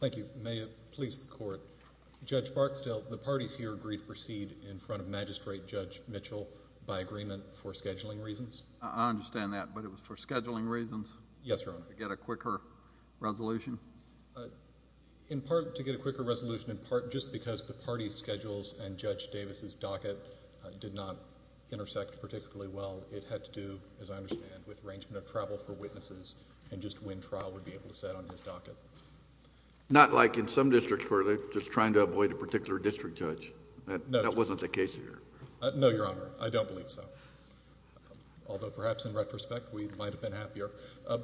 Thank you. May it please the Court. Judge Barksdale, the parties here agreed to proceed in front of Magistrate Judge Mitchell by agreement for scheduling reasons? I understand that, but it was for scheduling reasons? Yes, Your Honor. To get a quicker resolution? In part to get a quicker resolution, in part just because the parties' schedules and schedules are different, but it was for scheduling reasons, and it was for scheduling purposes. Not like in some districts where they're just trying to avoid a particular district judge. That wasn't the case here. No, Your Honor. I don't believe so. Although perhaps in retrospect we might have been happier.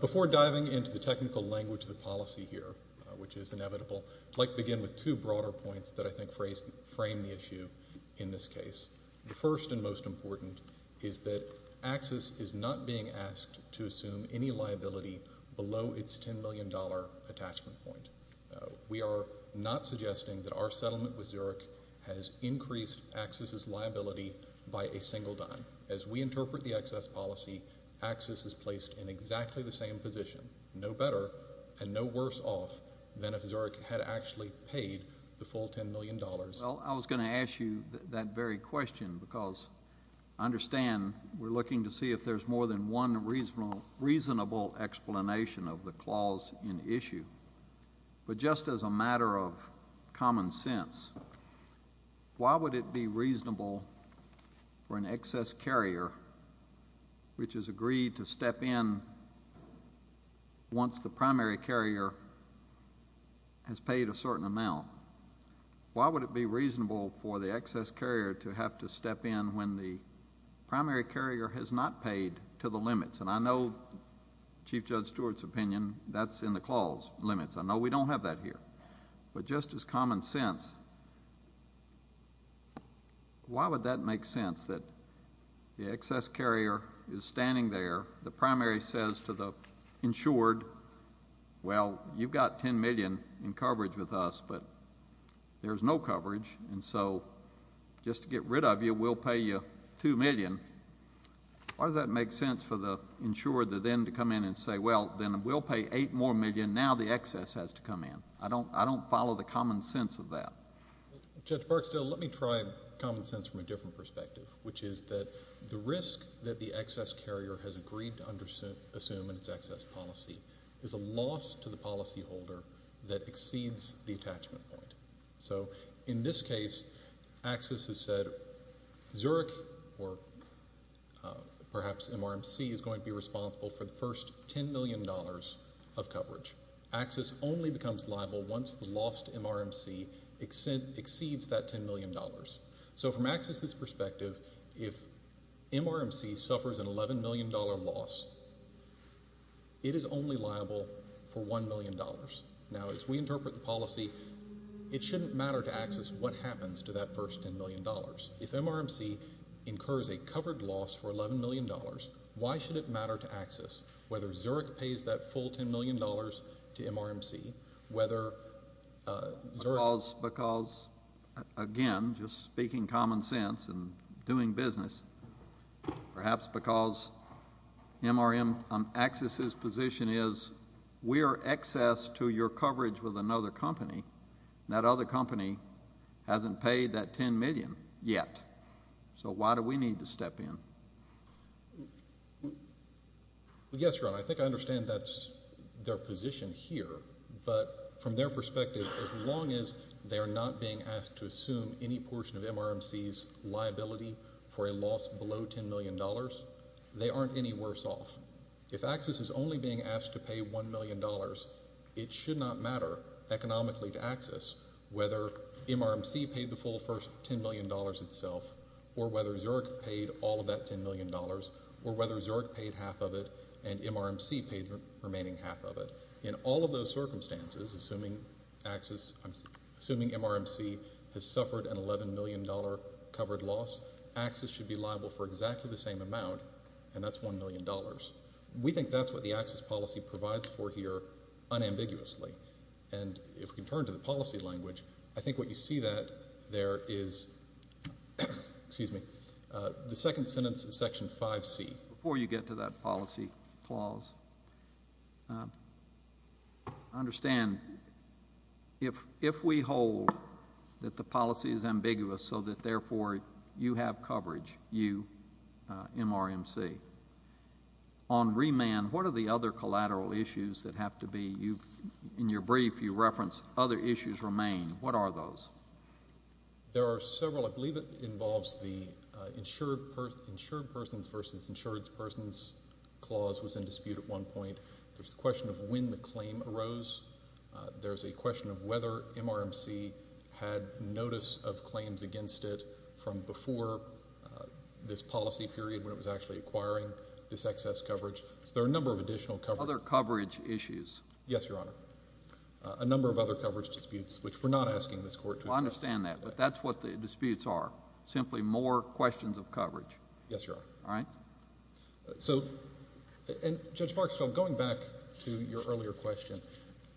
Before diving into the technical language of the policy here, which is inevitable, I'd like to begin with two broader points that I think frame the issue in this case. The first and most important is that AXIS is not being asked to assume any liability below its $10 million attachment point. We are not suggesting that our settlement with Zurich has increased AXIS's liability by a single dime. As we interpret the AXIS policy, AXIS is placed in exactly the same position, no better and no worse off than if Zurich had actually paid the full $10 million. Well, I was going to ask you that very question, because I understand we're looking to see if there's more than one reasonable explanation of the clause in issue. But just as a matter of common sense, why would it be reasonable for an excess carrier, which has agreed to pay $10 million, why would it be reasonable for the excess carrier to have to step in when the primary carrier has not paid to the limits? And I know, Chief Judge Stewart's opinion, that's in the clause, limits. I know we don't have that here. But just as common sense, why would that make sense that the excess carrier is standing there, the primary says to the insured, well, you've got $10 million in coverage with us, but there's no coverage, and so just to get rid of you, we'll pay you $2 million. Why does that make sense for the insured to then come in and say, well, then we'll pay $8 million, now the excess has to come in? I don't follow the common sense of that. Judge Barksdale, let me try common sense from a different perspective, which is that the risk that the excess carrier has agreed to assume in its AXIS policy is a loss to the primary carrier. In this case, AXIS has said, Zurich, or perhaps MRMC, is going to be responsible for the first $10 million of coverage. AXIS only becomes liable once the lost MRMC exceeds that $10 million. So from AXIS's perspective, if MRMC suffers an $11 million loss, it is only liable for $1 million. Now, as we interpret the policy, it shouldn't matter to AXIS what happens to that first $10 million. If MRMC incurs a covered loss for $11 million, why should it matter to AXIS whether Zurich pays that full $10 million to MRMC, whether Zurich... Because, again, just speaking common sense and doing business, perhaps because MRM, AXIS's position is, we are excess to your coverage with another company, and that other company hasn't paid that $10 million yet. So why do we need to step in? Well, yes, Ron, I think I understand that's their position here. But from their perspective, as long as they are not being asked to assume any portion of MRMC's liability for a loss below $10 million, they aren't any worse off. If AXIS is only being asked to pay $1 million, it should not matter economically to AXIS whether MRMC paid the full first $10 million itself, or whether Zurich paid all of that $10 million, or whether Zurich paid half of it and MRMC paid the remaining half of it. In all of those circumstances, assuming AXIS... I'm assuming MRMC has suffered an $11 million covered loss, AXIS should be liable for exactly the same amount, and that's $1 million. We think that's what the AXIS policy provides for here unambiguously. And if we can turn to the policy language, I think what you see there is... excuse me... the second sentence of Section 5C. Before you get to that policy clause, understand, if we hold that the policy is ambiguous so that therefore you have coverage, you, MRMC, on remand, what are the other collateral issues that have to be... in your brief, you reference other issues remain. What are those? There are several. I believe it involves the insured persons versus insured persons clause was in dispute at one point. There's a question of when the claim arose. There's a question of whether MRMC had notice of claims against it from before this policy period when it was actually acquiring this excess coverage. So there are a number of additional coverage... Other coverage issues. Yes, Your Honor. A number of other coverage disputes, which we're not asking this Court to address. Well, I understand that, but that's what the disputes are, simply more questions of coverage. Yes, Your Honor. All right? So, and Judge Barksdale, going back to your earlier question,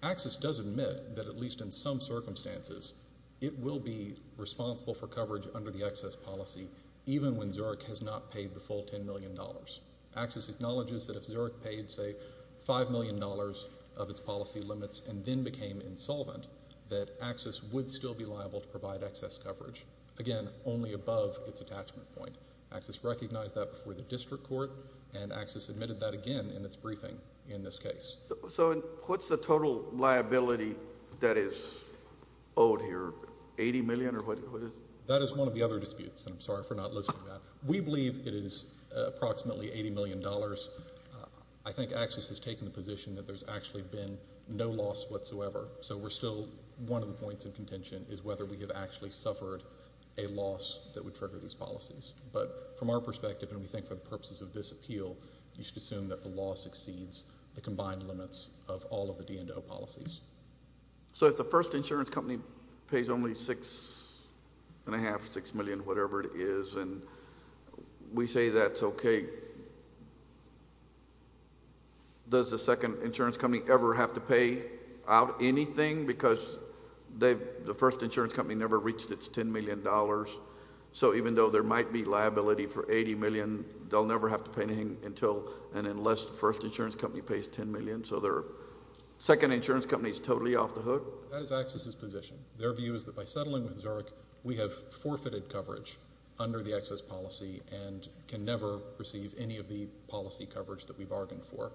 Axis does admit that at least in some circumstances it will be responsible for coverage under the excess policy even when Zurich has not paid the full $10 million. Axis acknowledges that if Zurich paid, say, $5 million of its policy limits and then became insolvent, that Axis would still be liable to provide excess coverage, again, only above its attachment point. Axis recognized that before the district court, and Axis admitted that again in its briefing in this case. So what's the total liability that is owed here, $80 million, or what is... That is one of the other disputes, and I'm sorry for not listing that. We believe it is approximately $80 million. I think Axis has taken the position that there's actually been no loss whatsoever. So we're still... one of the points in contention is whether we have actually suffered a loss that would trigger these policies. But from our perspective, and we think for the purposes of this appeal, you should assume that the law succeeds the combined limits of all of the D&O policies. So if the first insurance company pays only $6.5 or $6 million, whatever it is, and we say that's okay, does the second insurance company ever have to pay out anything? Because the first insurance company never reached its $10 million. So even though there might be liability for $80 million, they'll never have to pay anything until and unless the first insurance company pays $10 million. So their second insurance company is totally off the hook? That is Axis's position. Their view is that by settling with Zurich, we have forfeited coverage under the Axis policy and can never receive any of the policy coverage that we bargained for.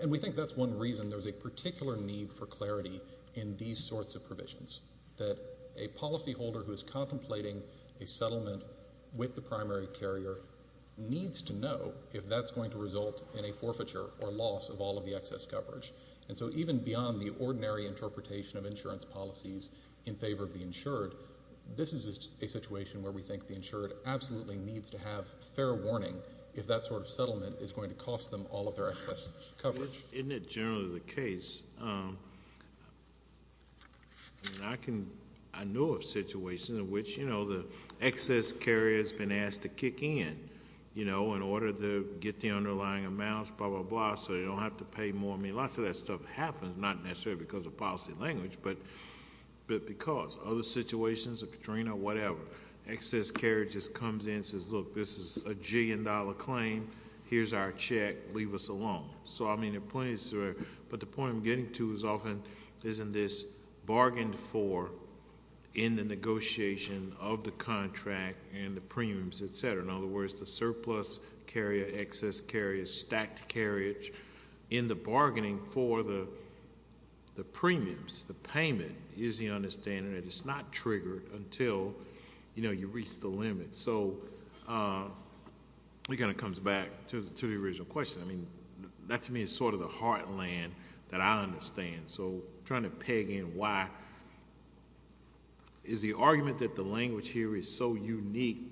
And we think that's one reason there's a particular need for clarity in these sorts of provisions, that a policyholder who is contemplating a settlement with the primary carrier needs to know if that's going to result in a forfeiture or loss of all of the Axis coverage. And so even beyond the ordinary interpretation of insurance policies in favor of the insured, this is a situation where we think the insured absolutely needs to have fair warning if that sort of settlement is going to cost them all of their Axis coverage. Isn't it generally the case? I mean, I know of situations in which, you know, the Axis carrier has been asked to kick in, you know, in order to get the underlying amounts, blah, blah, blah, so they don't have to pay more. I mean, lots of that stuff happens, not necessarily because of policy language, but because. Other situations, Katrina, whatever, Axis carrier just comes in and says, look, this is a gillion dollar claim, here's our check, leave us alone. So, I mean, the point is, but the point I'm getting to is often isn't this bargained for in the negotiation of the contract and the premiums, et cetera. In other words, the premiums, the payment, is the understanding that it's not triggered until, you know, you reach the limit. So it kind of comes back to the original question. I mean, that to me is sort of the heartland that I understand. So I'm trying to peg in why is the argument that the language here is so unique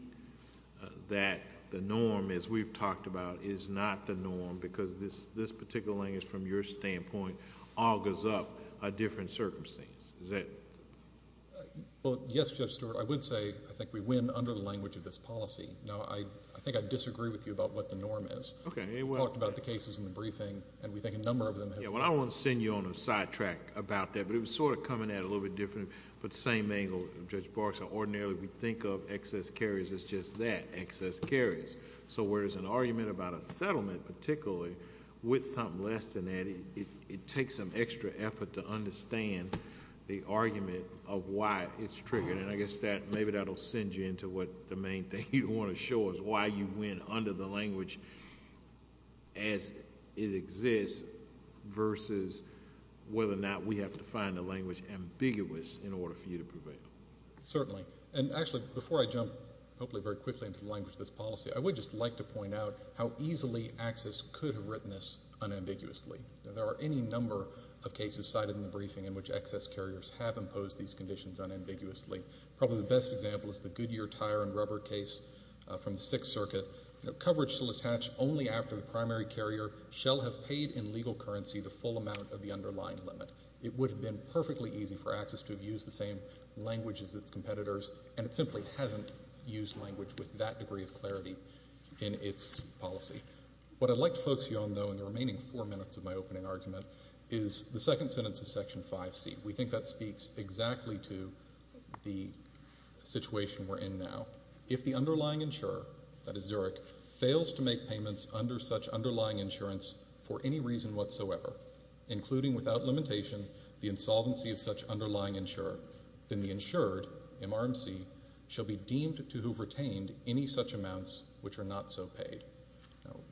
that the norm, as we've talked about, is not the norm, because this particular language, from your standpoint, augurs up a different circumstance. Is that... Well, yes, Judge Stewart. I would say I think we win under the language of this policy. Now, I think I disagree with you about what the norm is. Okay. We talked about the cases in the briefing, and we think a number of them have... Yeah, well, I don't want to send you on a sidetrack about that, but it was sort of coming at it a little bit different, but the same angle, Judge Barks, ordinarily we think of excess carriers as just that, excess carriers. So where there's an argument about a settlement, particularly, with something less than that, it takes some extra effort to understand the argument of why it's triggered. And I guess that... maybe that'll send you into what the main thing you want to show is why you win under the language as it exists versus whether or not we have to find a language ambiguous in order for you to prevail. Certainly. And, actually, before I jump, hopefully very quickly, into the language of this policy, I would just like to point out how easily Axis could have written this unambiguously. There are any number of cases cited in the briefing in which excess carriers have imposed these conditions unambiguously. Probably the best example is the Goodyear tire and rubber case from the Sixth Circuit. Coverage shall attach only after the primary carrier shall have paid in legal currency the full amount of the underlying limit. It would have been perfectly easy for Axis to have used the same language as its competitors, and it simply hasn't used language with that degree of clarity in its policy. What I'd like to focus you on, though, in the remaining four minutes of my opening argument, is the second sentence of Section 5C. We think that speaks exactly to the situation we're in now. If the underlying insurer, that is Zurich, fails to make payments under such insolvency of such underlying insurer, then the insured, MRMC, shall be deemed to have retained any such amounts which are not so paid.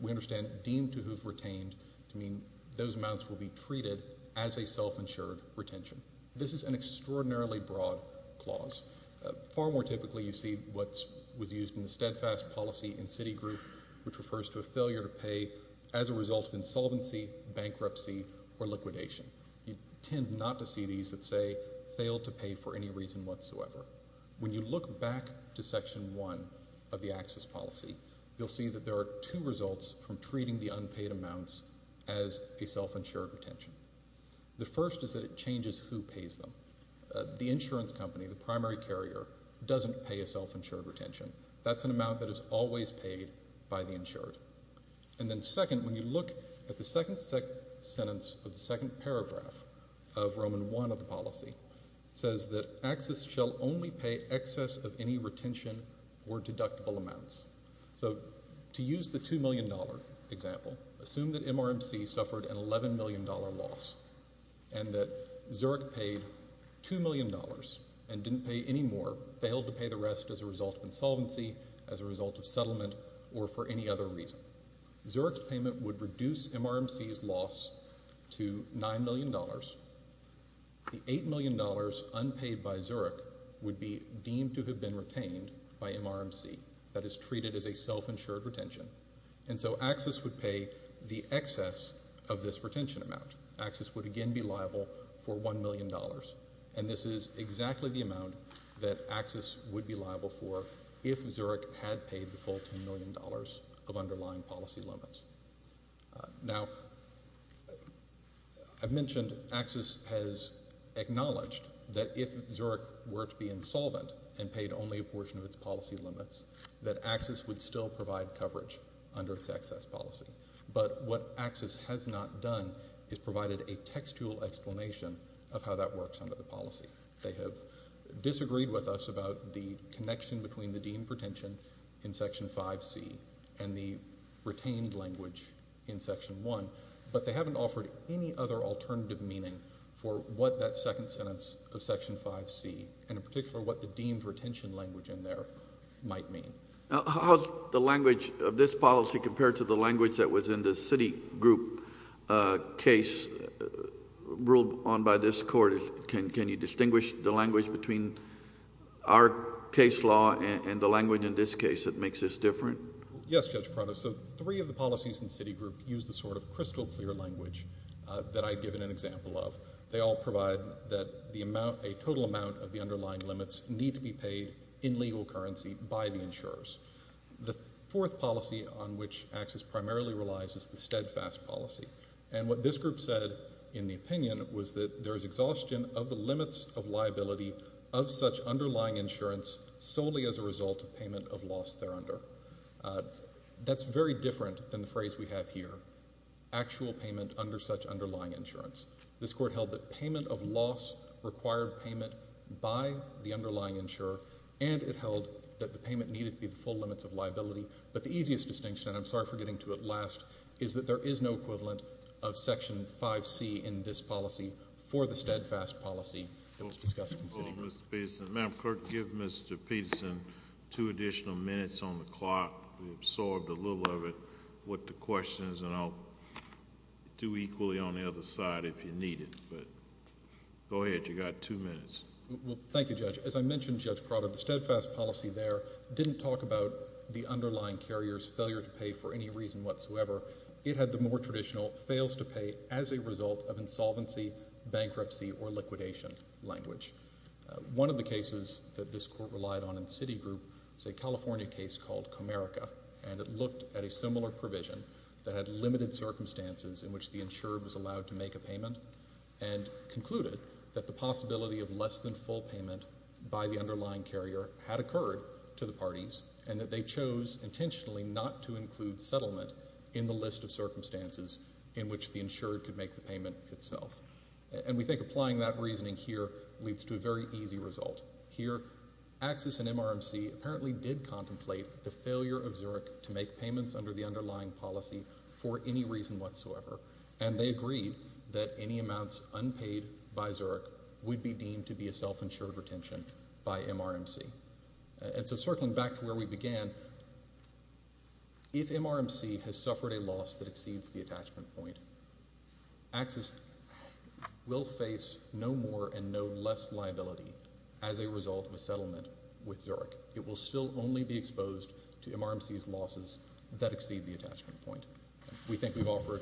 We understand deemed to have retained to mean those amounts will be treated as a self-insured retention. This is an extraordinarily broad clause. Far more typically, you see what was used in the steadfast policy in Citigroup, which refers to a failure to pay as a result of insolvency, bankruptcy, or liquidation. You tend not to see these that say, failed to pay for any reason whatsoever. When you look back to Section 1 of the Axis policy, you'll see that there are two results from treating the unpaid amounts as a self-insured retention. The first is that it changes who pays them. The insurance company, the primary carrier, doesn't pay a self-insured retention. That's an amount that is always paid by the insured. And then second, when you look at the second sentence of the second paragraph of Roman I of the policy, it says that Axis shall only pay excess of any retention or deductible amounts. So to use the $2 million example, assume that MRMC suffered an $11 million loss and that Zurich paid $2 million and didn't pay any more, failed to pay the rest as a result of insolvency, as a result of settlement, or for any other reason. Zurich's payment would reduce MRMC's loss to $9 million. The $8 million unpaid by Zurich would be deemed to have been retained by MRMC. That is treated as a self-insured retention. And so Axis would pay the excess of this retention amount. Axis would again be liable for $1 million. And this is exactly the amount that Axis would be liable for if Zurich had paid the full $10 million of underlying policy limits. Now, I mentioned Axis has acknowledged that if Zurich were to be insolvent and paid only a portion of its policy limits, that Axis would still provide coverage under its excess policy. But what Axis has not done is provided a textual explanation of how that works under the policy. They have disagreed with us about the connection between the deemed retention in Section 5C and the retained language in Section 1, but they haven't offered any other alternative meaning for what that second sentence of Section 5C, and in particular what the deemed retention language in there, might mean. How's the language of this policy compared to the language that was in the Citigroup case ruled on by this Court? Can you distinguish the language between our case law and the language in this case that makes this different? Yes, Judge Prado. So three of the policies in Citigroup use the sort of crystal clear language that I've given an example of. They all provide that a total amount of the underlying limits need to be paid in legal currency by the insurers. The fourth policy on which Axis primarily relies is the steadfast policy. And what this group said in the opinion was that there is exhaustion of the limits of liability of such underlying insurance solely as a result of payment of loss thereunder. That's very different than the phrase we have here, actual payment under such underlying insurance. This Court held that payment of loss required payment by the underlying insurer, and it held that the payment needed to be paid in full limits of liability. But the easiest distinction, and I'm sorry for getting to it last, is that there is no equivalent of Section 5C in this policy for the steadfast policy that was discussed in Citigroup. Well, Mr. Peterson, Madam Clerk, give Mr. Peterson two additional minutes on the clock. We absorbed a little of it, what the question is, and I'll do equally on the other side if you need it. But go ahead, you've got two minutes. Well, thank you, Judge. As I mentioned, Judge Prado, the steadfast policy there didn't talk about the underlying carrier's failure to pay for any reason whatsoever. It had the more traditional fails to pay as a result of insolvency, bankruptcy or liquidation language. One of the cases that this Court relied on in Citigroup is a California case called Comerica, and it looked at a similar provision that had limited circumstances in which the insurer was allowed to make a payment, and concluded that the possibility of less than full payment by the underlying carrier had occurred to the parties, and that they chose intentionally not to include settlement in the list of circumstances in which the insurer could make the payment itself. And we think applying that reasoning here leads to a very easy result. Here, Axis and MRMC apparently did contemplate the failure of Zurich to make payments under the underlying policy for any reason whatsoever, and they agreed that any amounts unpaid by Zurich would be deemed to be a self-insured retention by MRMC. And so circling back to where we began, if MRMC has suffered a loss that exceeds the attachment point, Axis will face no more and no less liability as a result of a settlement with Zurich. It will still only be exposed to MRMC's losses that exceed the attachment point. We think we've offered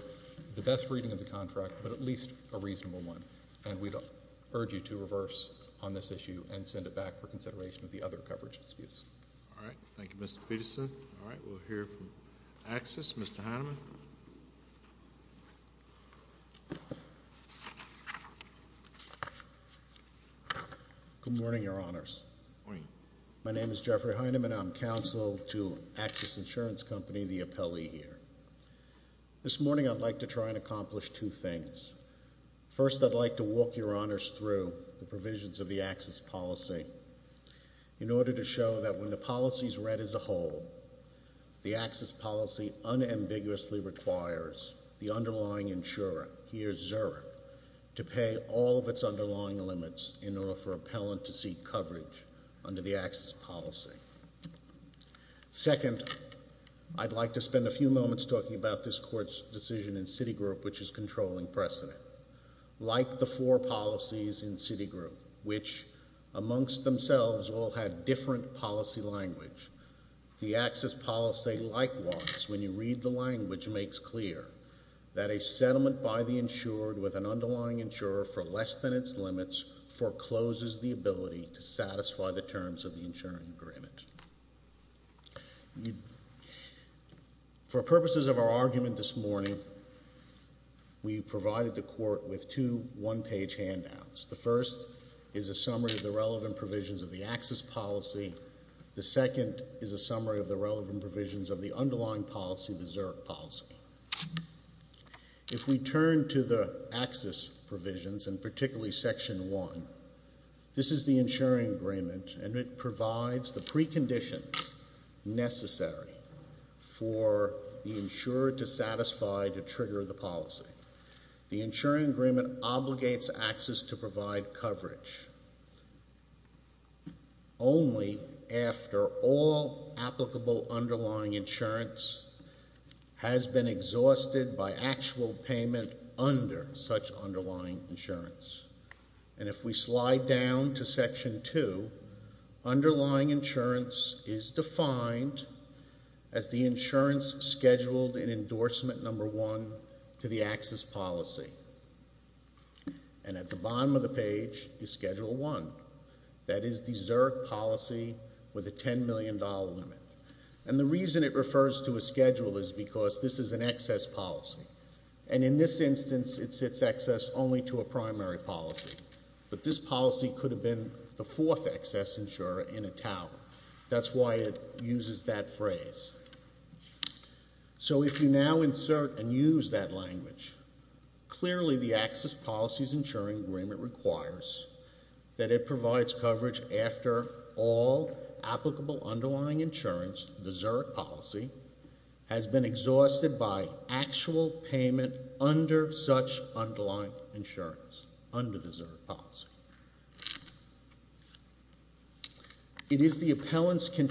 the best reading of the contract, but at least a reasonable one, and we'd urge you to reverse on this issue and send it back for consideration of the other coverage disputes. All right. Thank you, Mr. Peterson. All right. We'll hear from Axis. Mr. Heineman? Good morning, Your Honors. My name is Jeffrey Heineman. I'm counsel to Axis Insurance Company, the appellee here. This morning I'd like to try and accomplish two things. First, I'd like to walk Your Honors through the provisions of the Axis policy in order to show that when the underlying insurer, here Zurich, to pay all of its underlying limits in order for appellant to seek coverage under the Axis policy. Second, I'd like to spend a few moments talking about this Court's decision in Citigroup, which is controlling precedent. Like the four policies in Citigroup, which amongst themselves all have different policy language, the Axis policy likewise, when you read the language, makes clear that a settlement by the insured with an underlying insurer for less than its limits forecloses the ability to satisfy the terms of the insuring agreement. For purposes of our argument this morning, we provided the Court with two one-page handouts. The first is a summary of the relevant provisions of the Axis policy. The second is a summary of the relevant provisions of the underlying policy, the Zurich policy. If we turn to the Axis provisions, and particularly Section 1, this is the insuring agreement, and it provides the preconditions necessary for the insurer to satisfy, to trigger the policy. The insuring agreement obligates Axis to provide coverage only after all applicable underlying insurance has been exhausted by actual payment under such underlying insurance. And if we slide down to Section 2, underlying insurance is defined as the insurance scheduled in endorsement number one to the Axis policy. And at the bottom of the page is Schedule 1, that is the Zurich policy with a $10 million limit. And the reason it refers to a schedule is because this is an excess policy. And in this instance, it's excess only to a primary policy. But this policy could have been the fourth excess insurer in a tower. That's why it uses that phrase. So if you now insert and use that language, clearly the Axis policies insuring agreement requires that it provides coverage after all applicable underlying insurance, the Zurich policy, has been exhausted by actual payment under such underlying insurance, under the Zurich policy. It is the appellant's claim,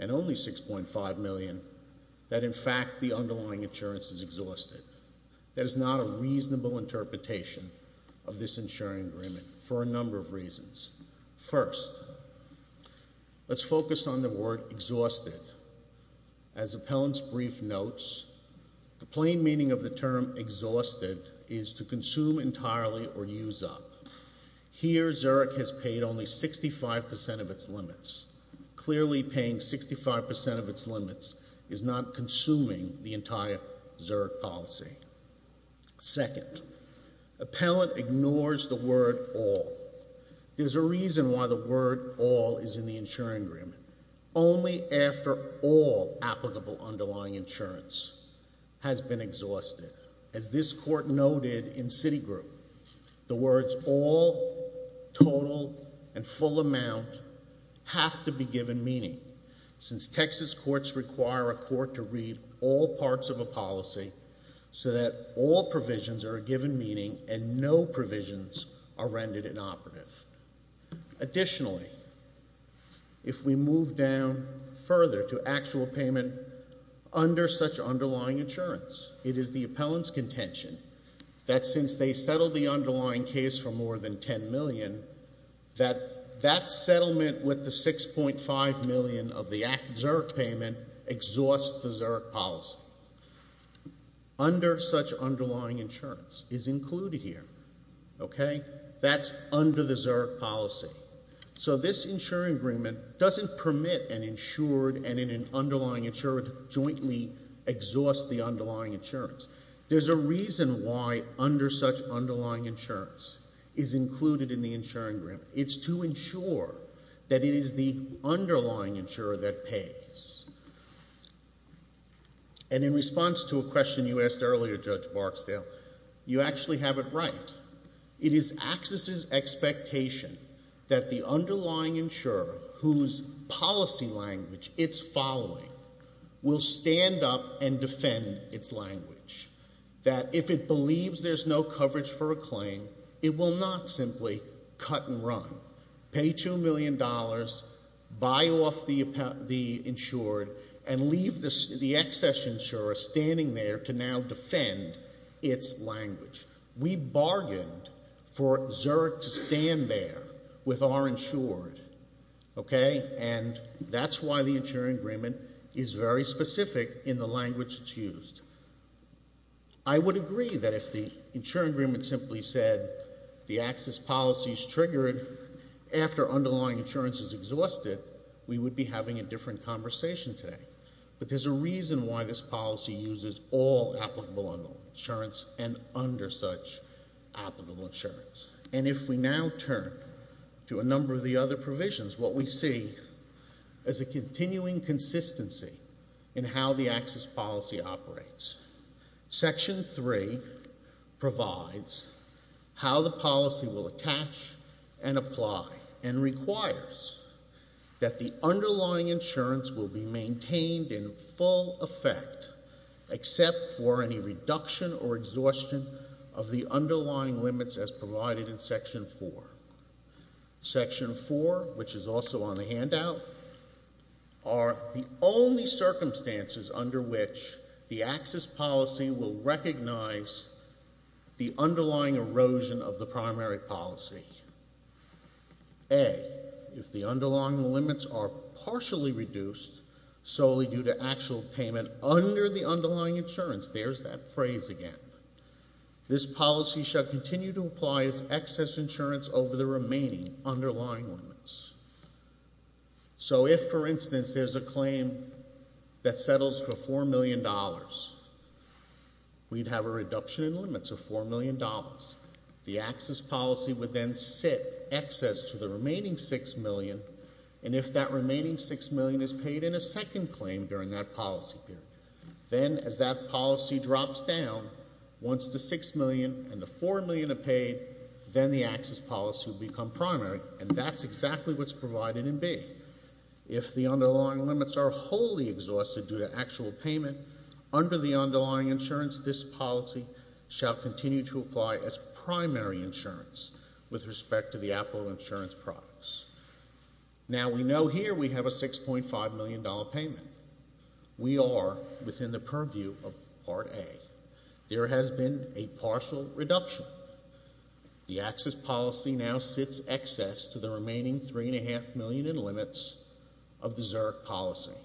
and only $6.5 million, that in fact the underlying insurance is exhausted. That is not a reasonable interpretation of this insuring agreement for a number of reasons. First, let's focus on the word exhausted. As the appellant's brief notes, the plain meaning of the term exhausted is to consume entirely or use up. Here, Zurich has paid only 65% of its limits. Clearly paying 65% of its limits is not consuming the entire Zurich policy. Second, appellant ignores the word all. There's a reason why the word all is in the insuring agreement. Only after all applicable underlying insurance has been exhausted. As this court noted in Citigroup, the words all, total, and full amount have to be given meaning, since Texas courts require a court to read all parts of a policy so that all provisions are given meaning and no provisions are rendered inoperative. Additionally, if we move down further to actual payment under such underlying insurance, it is the appellant's contention that since they settled the underlying case for more than $10 million, that that settlement with the $6.5 million of the Zurich payment exhausts the Zurich policy. Under such underlying insurance is included here. Okay? That's under the Zurich policy. So this insuring agreement doesn't permit an insured and an underlying insurer to jointly exhaust the underlying insurance. There's a reason why under such underlying insurance is included in the insuring agreement. It's to ensure that it is the underlying insurer that pays. And in response to a question you asked earlier, Judge Barksdale, you actually have it right. It is access's expectation that the underlying insurer whose policy language it's following will stand up and defend its language. That if it believes there's no coverage for a claim, it will not simply cut and run. Pay $2 million, buy off the insured, and leave the excess insurer standing there to now defend its language. We bargained for Zurich to stand there with our insured. Okay? And that's why the insuring agreement is very specific in the language it's used. I would agree that if the insuring agreement simply said the access policy is triggered after underlying insurance is exhausted, we would be having a different conversation today. But there's a reason why this policy uses all applicable insurance and under such applicable insurance. And if we now turn to a number of the other provisions, what we see is a continuing consistency in how the access policy operates. Section 3 provides how the policy will attach and apply and requires that the underlying insurance will be maintained in full effect except for any reduction or exhaustion of the underlying limits as provided in Section 4. Section 4, which is also on the handout, are the only to recognize the underlying erosion of the primary policy. A, if the underlying limits are partially reduced solely due to actual payment under the underlying insurance, there's that phrase again, this policy shall continue to apply as excess insurance over the remaining underlying limits. So if, for instance, there's a claim that settles for $4 million, we'd have a reduction in limits of $4 million. The access policy would then sit excess to the remaining $6 million, and if that remaining $6 million is paid in a second claim during that policy period, then as that policy drops down, once the $6 million and the $4 million are paid, then the access policy will become primary. And that's exactly what's provided in B. If the underlying limits are wholly exhausted due to actual payment under the underlying policy, shall continue to apply as primary insurance with respect to the applicable insurance products. Now we know here we have a $6.5 million payment. We are within the purview of Part A. There has been a partial reduction. The access policy now sits excess to the remaining $3.5 million in limits of the ZURC policy.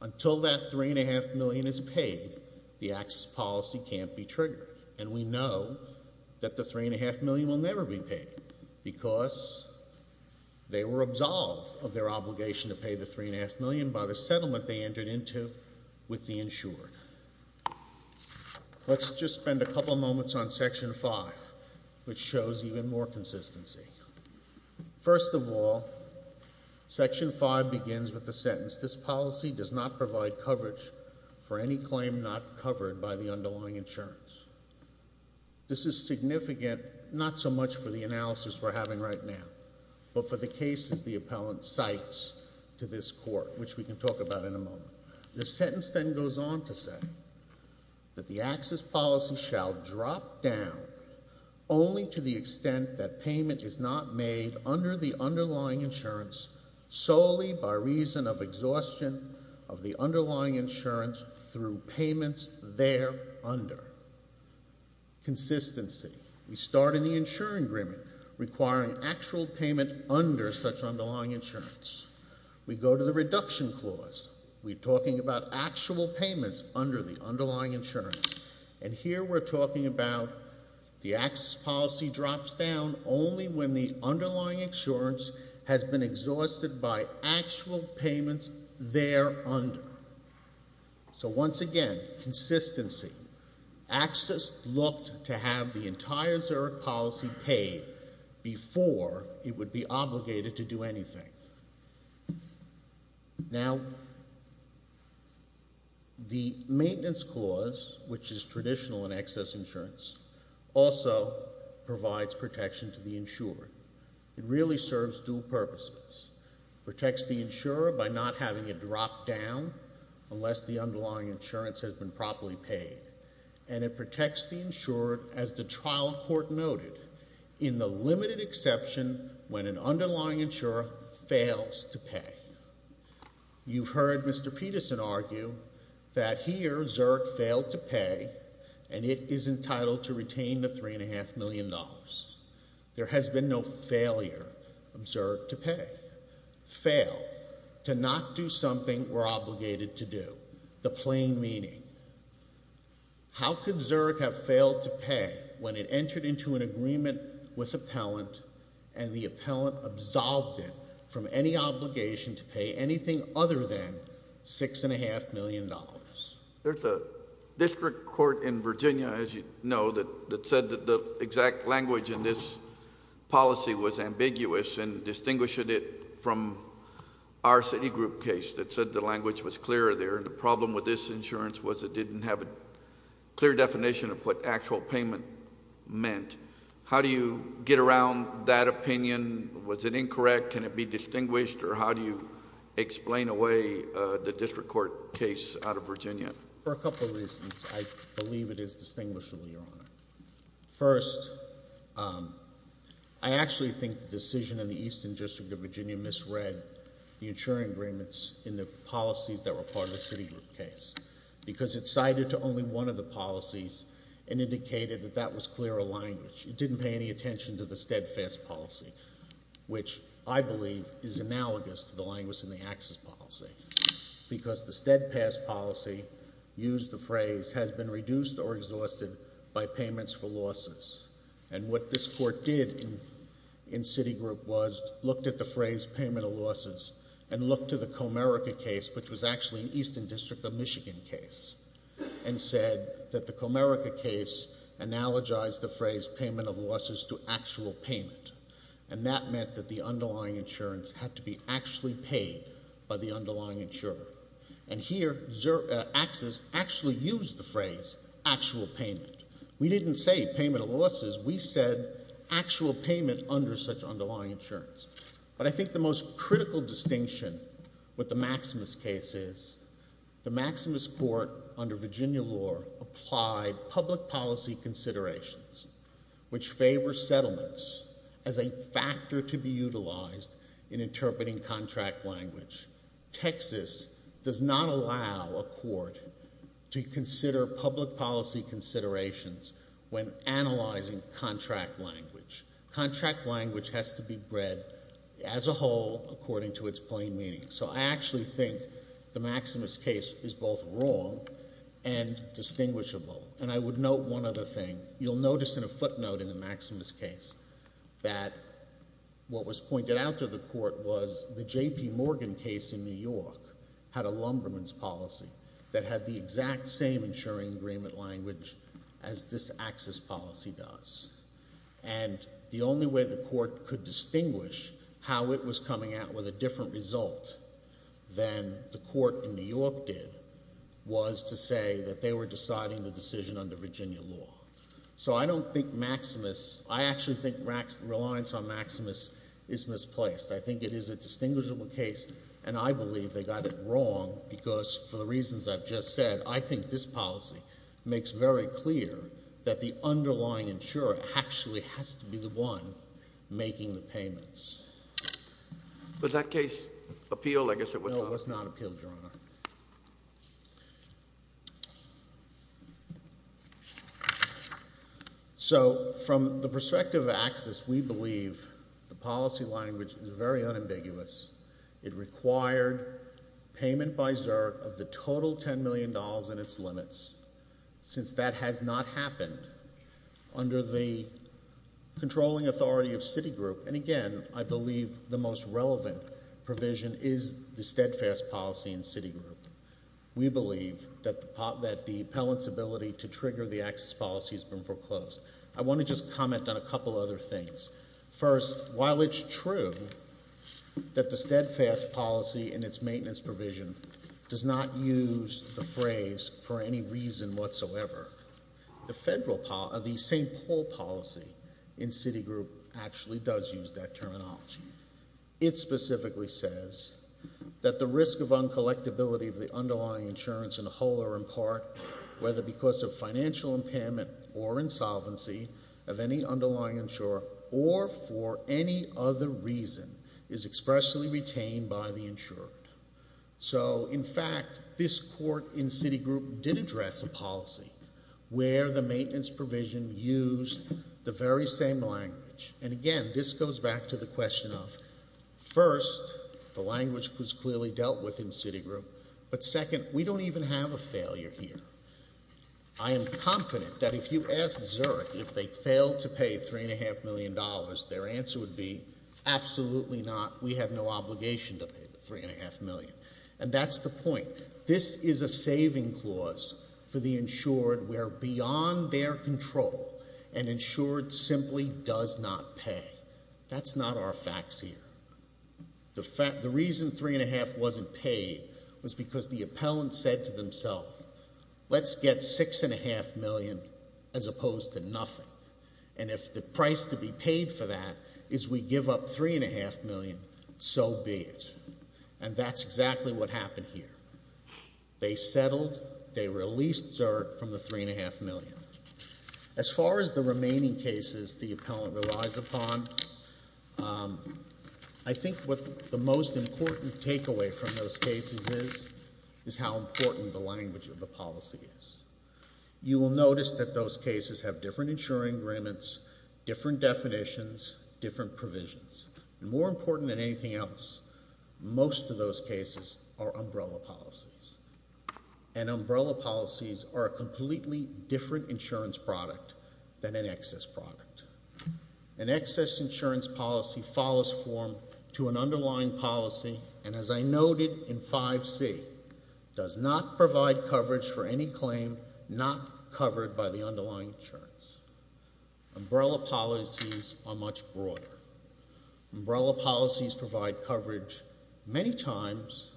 Until that $3.5 million is paid, the access policy can't be triggered, and we know that the $3.5 million will never be paid because they were absolved of their obligation to pay the $3.5 million by the settlement they entered into with the insured. Let's just spend a couple moments on Section 5, which shows even more consistency. First of all, Section 5 begins with the claim not covered by the underlying insurance. This is significant not so much for the analysis we're having right now, but for the cases the appellant cites to this Court, which we can talk about in a moment. The sentence then goes on to say that the access policy shall drop down only to the extent that payment is not made under the underlying insurance solely by reason of exhaustion of the underlying insurance through payments there under. Consistency. We start in the insurance agreement requiring actual payment under such underlying insurance. We go to the reduction clause. We're talking about actual payments under the underlying insurance, and here we're talking about the access policy drops down only when the underlying insurance has been exhausted by actual payments there under. So once again, consistency. Access looked to have the entire Zurich policy paid before it would be obligated to do anything. Now, the maintenance clause, which is traditional in excess insurance, also provides protection to the insured. It really serves dual purposes. It protects the insurer by not having it drop down unless the underlying insurance has been properly paid, and it protects the insured, as the trial court noted, in the limited exception when an underlying insurer fails to pay. You've heard Mr. Peterson argue that here, Zurich failed to pay, and it is entitled to pay. There has been no failure of Zurich to pay. Fail. To not do something we're obligated to do. The plain meaning. How could Zurich have failed to pay when it entered into an agreement with appellant and the appellant absolved it from any obligation to pay anything other than $6.5 million? There's a district court in Virginia, as you know, that said that the exact language in this policy was ambiguous and distinguished it from our city group case that said the language was clear there. The problem with this insurance was it didn't have a clear definition of what actual payment meant. How do you get around that opinion? Was it incorrect? Can it be For a couple of reasons, I believe it is distinguishable, Your Honor. First, I actually think the decision in the Eastern District of Virginia misread the insuring agreements in the policies that were part of the city group case, because it cited to only one of the policies and indicated that that was clearer language. It didn't pay any attention to the steadfast policy, which I believe is analogous to the language in the access policy, because the steadfast policy, use the phrase, has been reduced or exhausted by payments for losses. And what this court did in city group was looked at the phrase payment of losses and looked to the Comerica case, which was actually an Eastern District of Michigan case, and said that the Comerica case analogized the phrase payment of losses to actual payment. And that meant that the underlying insurance had to be actually paid by the underlying insurer. And here, access actually used the phrase actual payment. We didn't say payment of losses. We said actual payment under such underlying insurance. But I think the most critical distinction with the Maximus case is the Maximus court under Virginia law applied public policy considerations, which favor settlements as a factor to be utilized in a settlement. Maximus does not allow a court to consider public policy considerations when analyzing contract language. Contract language has to be read as a whole according to its plain meaning. So I actually think the Maximus case is both wrong and distinguishable. And I would note one other thing. You'll notice in a footnote in the Maximus case that what had a lumberman's policy that had the exact same insuring agreement language as this access policy does. And the only way the court could distinguish how it was coming out with a different result than the court in New York did was to say that they were deciding the decision under Virginia law. So I don't think Maximus, I actually think reliance on Maximus is misplaced. I think it is a distinguishable case, and I believe they got it wrong because for the reasons I've just said, I think this policy makes very clear that the underlying insurer actually has to be the one making the payments. Was that case appealed? I guess it was not. So from the perspective of access, we believe the policy language is very unambiguous. It required payment by ZURT of the total $10 million in its limits. Since that has not happened under the controlling authority of Citigroup, and again, I believe the most relevant provision is the steadfast policy in Citigroup. We believe that the appellant's ability to trigger the access policy has been foreclosed. I want to just comment on a couple other things. First, while it's true that the steadfast policy in its maintenance provision does not use the phrase for any reason whatsoever, the St. Paul policy in Citigroup actually does use that terminology. It specifically says that the risk of uncollectability of the underlying insurance in the whole or in part, whether because of financial impairment or insolvency of any underlying insurer or for any other reason, is expressly retained by the insurer. So in fact, this court in Citigroup did address a policy where the maintenance provision used the very same language. And again, this goes back to the question of, first, the language was clearly dealt with in Citigroup, but second, we don't even have a failure here. I am confident that if you asked ZURT if they failed to pay $3.5 million, their answer would be absolutely not. We have no obligation to pay the $3.5 million. And that's the point. This is a saving clause for the insured where beyond their control an insured simply does not pay. That's not our facts here. The reason $3.5 wasn't paid was because the appellant said to themselves, let's get $6.5 million as opposed to nothing. And if the price to be paid for that is we give up $3.5 million, so be it. And that's exactly what happened here. They settled, they released ZURT from the $3.5 million. As far as the remaining cases the appellant relies upon, I think what the most important takeaway from those cases is, is how important the language of the policy is. You will notice that those cases have different insuring agreements, different definitions, different provisions. More important than anything else, most of those cases are umbrella policies. And umbrella policies are a completely different insurance product than an excess product. An excess insurance policy follows form to an underlying policy, and as I noted in 5C, does not provide coverage for any claim not covered by the underlying insurance. Umbrella policies are much broader. Umbrella policies provide coverage many times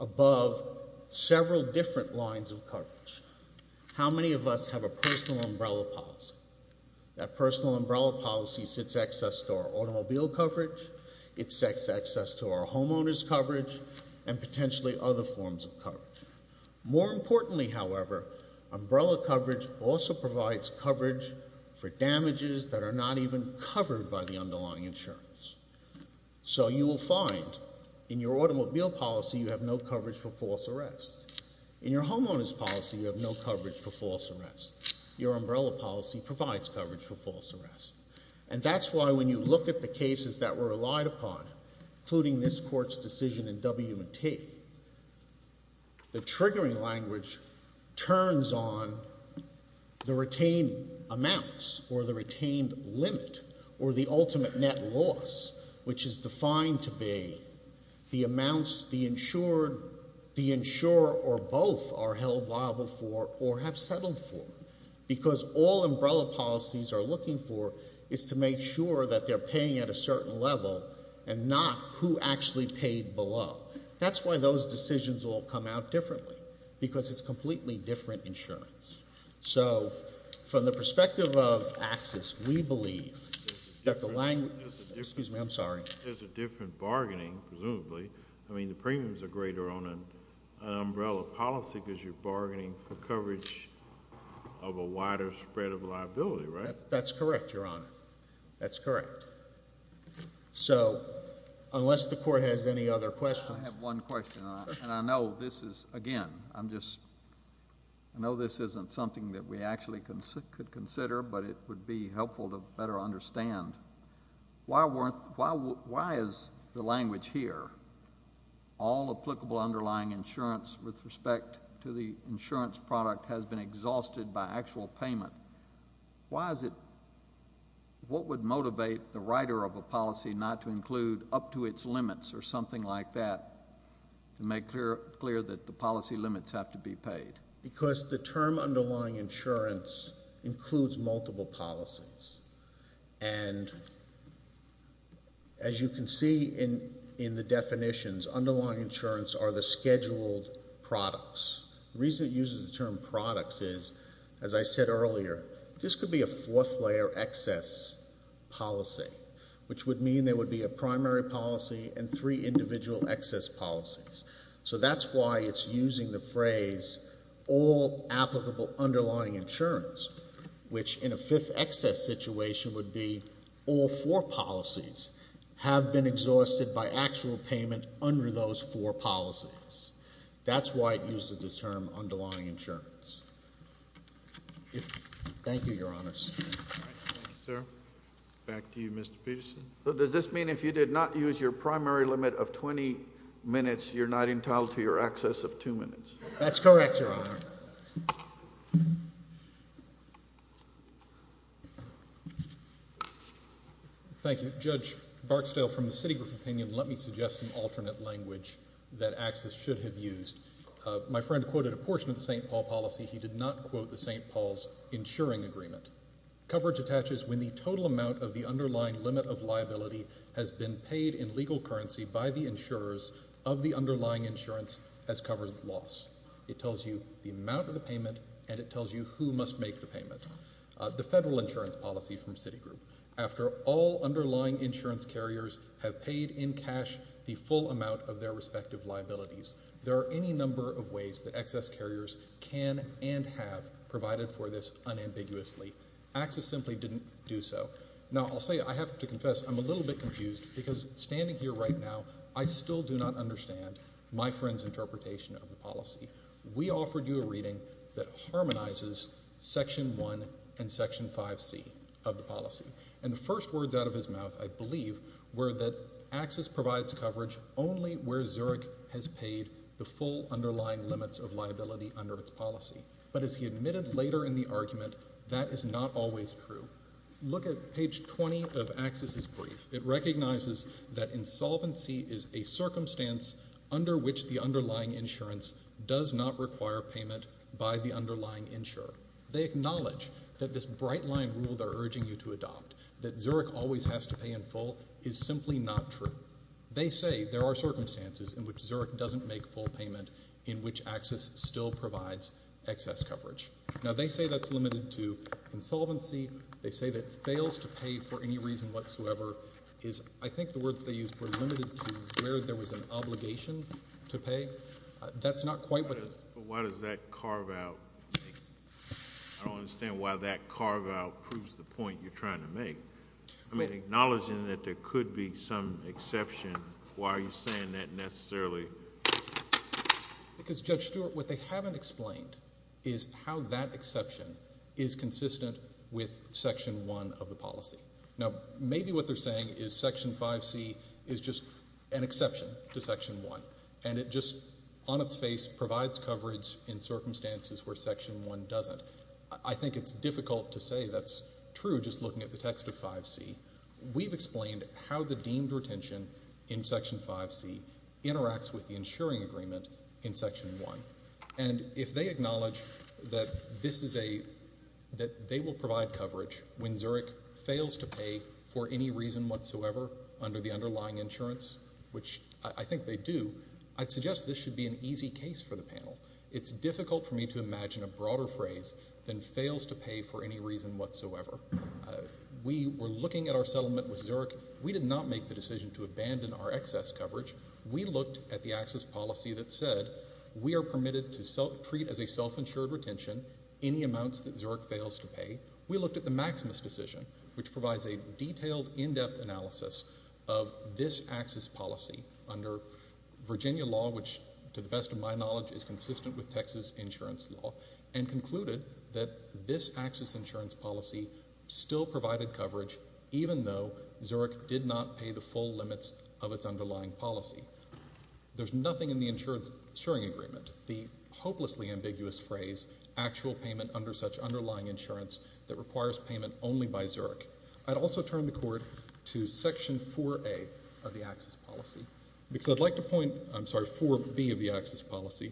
above several different lines of coverage. How many of us have a personal umbrella policy? That personal umbrella policy sets access to our automobile coverage, it sets access to our homeowner's coverage, and potentially other forms of coverage. More importantly, however, umbrella coverage also provides coverage for damages that are not even covered by the underlying insurance. So you will find in your automobile policy you have no coverage for false arrest. In your homeowner's policy you have no coverage for false arrest. Your umbrella policy provides coverage for false arrest. And that's why when you look at the cases that were relied upon, including this Court's decision in W&T, the triggering language turns on the retained amounts, or the retained limit, or the ultimate net loss, which is defined to be the amounts the insurer or both are held liable for or have settled for, because all umbrella policies are looking for is to make sure that they're paying at a certain level and not who actually paid below. That's why those decisions all come out differently, because it's completely different insurance. So from the perspective of access, we believe that the language — There's a different — Excuse me. I'm sorry. There's a different bargaining, presumably. I mean, the premiums are greater on an umbrella policy because you're bargaining for coverage of a wider spread of liability, right? That's correct, Your Honor. That's correct. So unless the Court has any other questions — I have one question, and I know this is — again, I'm just — I know this isn't something that we actually could consider, but it would be helpful to better understand. Why is the language here, all applicable underlying insurance with respect to the insurance product has been exhausted by actual payment? Why is it — what would motivate the writer of a policy not to include up to its limits or something like that to make clear that the policy limits have to be paid? Because the term underlying insurance includes multiple policies. And as you can see in the definitions, underlying insurance are the scheduled products. The reason it uses the term products is, as I said earlier, this could be a fourth-layer excess policy, which would mean there would be a primary policy and three individual excess policies. So that's why it's using the phrase all applicable underlying insurance, which in a fifth excess situation would be all four policies have been exhausted by actual payment under those four policies. That's why it uses the term underlying insurance. Thank you, Your Honors. All right. Thank you, sir. Back to you, Mr. Peterson. So does this mean if you did not use your primary limit of 20 minutes, you're not entitled to your excess of two minutes? That's correct, Your Honor. Thank you. Judge Barksdale, from the Citigroup opinion, let me suggest some alternate language that excess should have used. My friend quoted a portion of the St. Paul policy. He did not quote the St. Paul's insuring agreement. Coverage attaches when the total amount of the underlying limit of liability has been paid in legal currency by the insurers of the underlying insurance as covered loss. It tells you the amount of the payment and it tells you who must make the payment. The federal insurance policy from Citigroup. After all underlying insurance carriers have paid in cash the full amount of their and have provided for this unambiguously. Access simply didn't do so. Now, I'll say I have to confess I'm a little bit confused because standing here right now, I still do not understand my friend's interpretation of the policy. We offered you a reading that harmonizes Section 1 and Section 5C of the policy. And the first words out of his mouth, I believe, were that access provides coverage only where Zurich has paid the full But as he admitted later in the argument, that is not always true. Look at page 20 of Access' brief. It recognizes that insolvency is a circumstance under which the underlying insurance does not require payment by the underlying insurer. They acknowledge that this bright line rule they're urging you to adopt, that Zurich always has to pay in full, is simply not true. They say there are circumstances in which Zurich doesn't make full payment in which access still provides excess coverage. Now, they say that's limited to insolvency. They say that fails to pay for any reason whatsoever is, I think the words they used were limited to where there was an obligation to pay. That's not quite what But why does that carve out? I don't understand why that carve out proves the point you're trying to make. I mean, acknowledging that there could be some exception, why are you Because Judge Stewart, what they haven't explained is how that exception is consistent with Section 1 of the policy. Now, maybe what they're saying is Section 5C is just an exception to Section 1. And it just, on its face, provides coverage in circumstances where Section 1 doesn't. I think it's difficult to say that's true just looking at the text of 5C. We've explained how the deemed retention in Section 5C interacts with the insuring agreement in Section 1. And if they acknowledge that they will provide coverage when Zurich fails to pay for any reason whatsoever under the underlying insurance, which I think they do, I'd suggest this should be an easy case for the We were looking at our settlement with Zurich. We did not make the decision to abandon our excess coverage. We looked at the access policy that said we are permitted to treat as a self-insured retention any amounts that Zurich fails to pay. We looked at the Maximus decision, which provides a detailed, in-depth analysis of this access policy under Virginia law, which to the best of my knowledge is consistent with Texas insurance law, and concluded that this access insurance policy still provided coverage even though Zurich did not pay the full limits of its underlying policy. There's nothing in the insuring agreement, the hopelessly ambiguous phrase, actual payment under such underlying insurance that requires payment only by Zurich. I'd also turn the court to Section 4A of the access policy, because I'd like to point, I'm sorry, 4B of the access policy,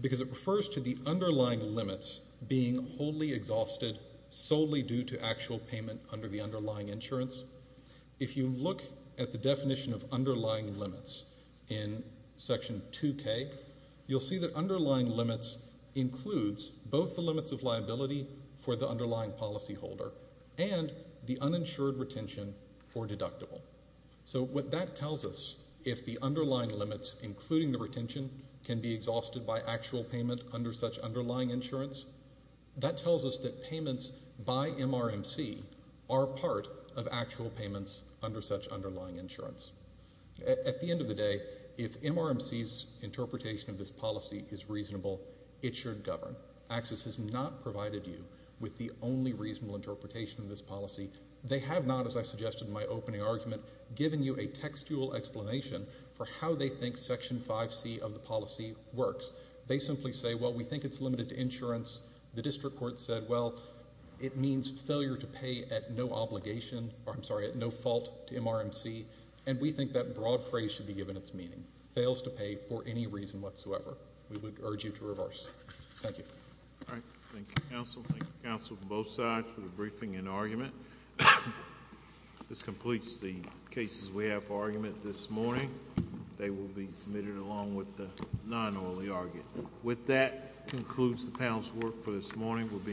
because it refers to the underlying limits being wholly exhausted solely due to actual payment under the underlying insurance. If you look at the definition of underlying limits in Section 2K, you'll see that underlying limits includes both the limits of liability for the underlying policyholder and the uninsured retention for deductible. So what that tells us, if the underlying limits, including the retention, can be exhausted by actual payment under such underlying insurance, that tells us that payments by MRMC are part of actual payments under such underlying insurance. At the end of the day, if MRMC's interpretation of this policy is reasonable, it should govern. Access has not provided you with the only reasonable interpretation of this policy. They have not, as I suggested in my opening argument, given you a textual explanation for how they think Section 5C of the policy works. They simply say, well, we think it's limited to insurance. The district court has said, well, it means failure to pay at no obligation, or I'm sorry, at no fault to MRMC, and we think that broad phrase should be given its meaning. Fails to pay for any reason whatsoever. We would urge you to reverse. Thank you. All right. Thank you, counsel. Thank you, counsel from both sides for the briefing and argument. This completes the cases we have for argument this morning. They will be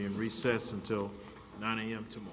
in recess until 9 a.m. tomorrow. Thank you. Thank you.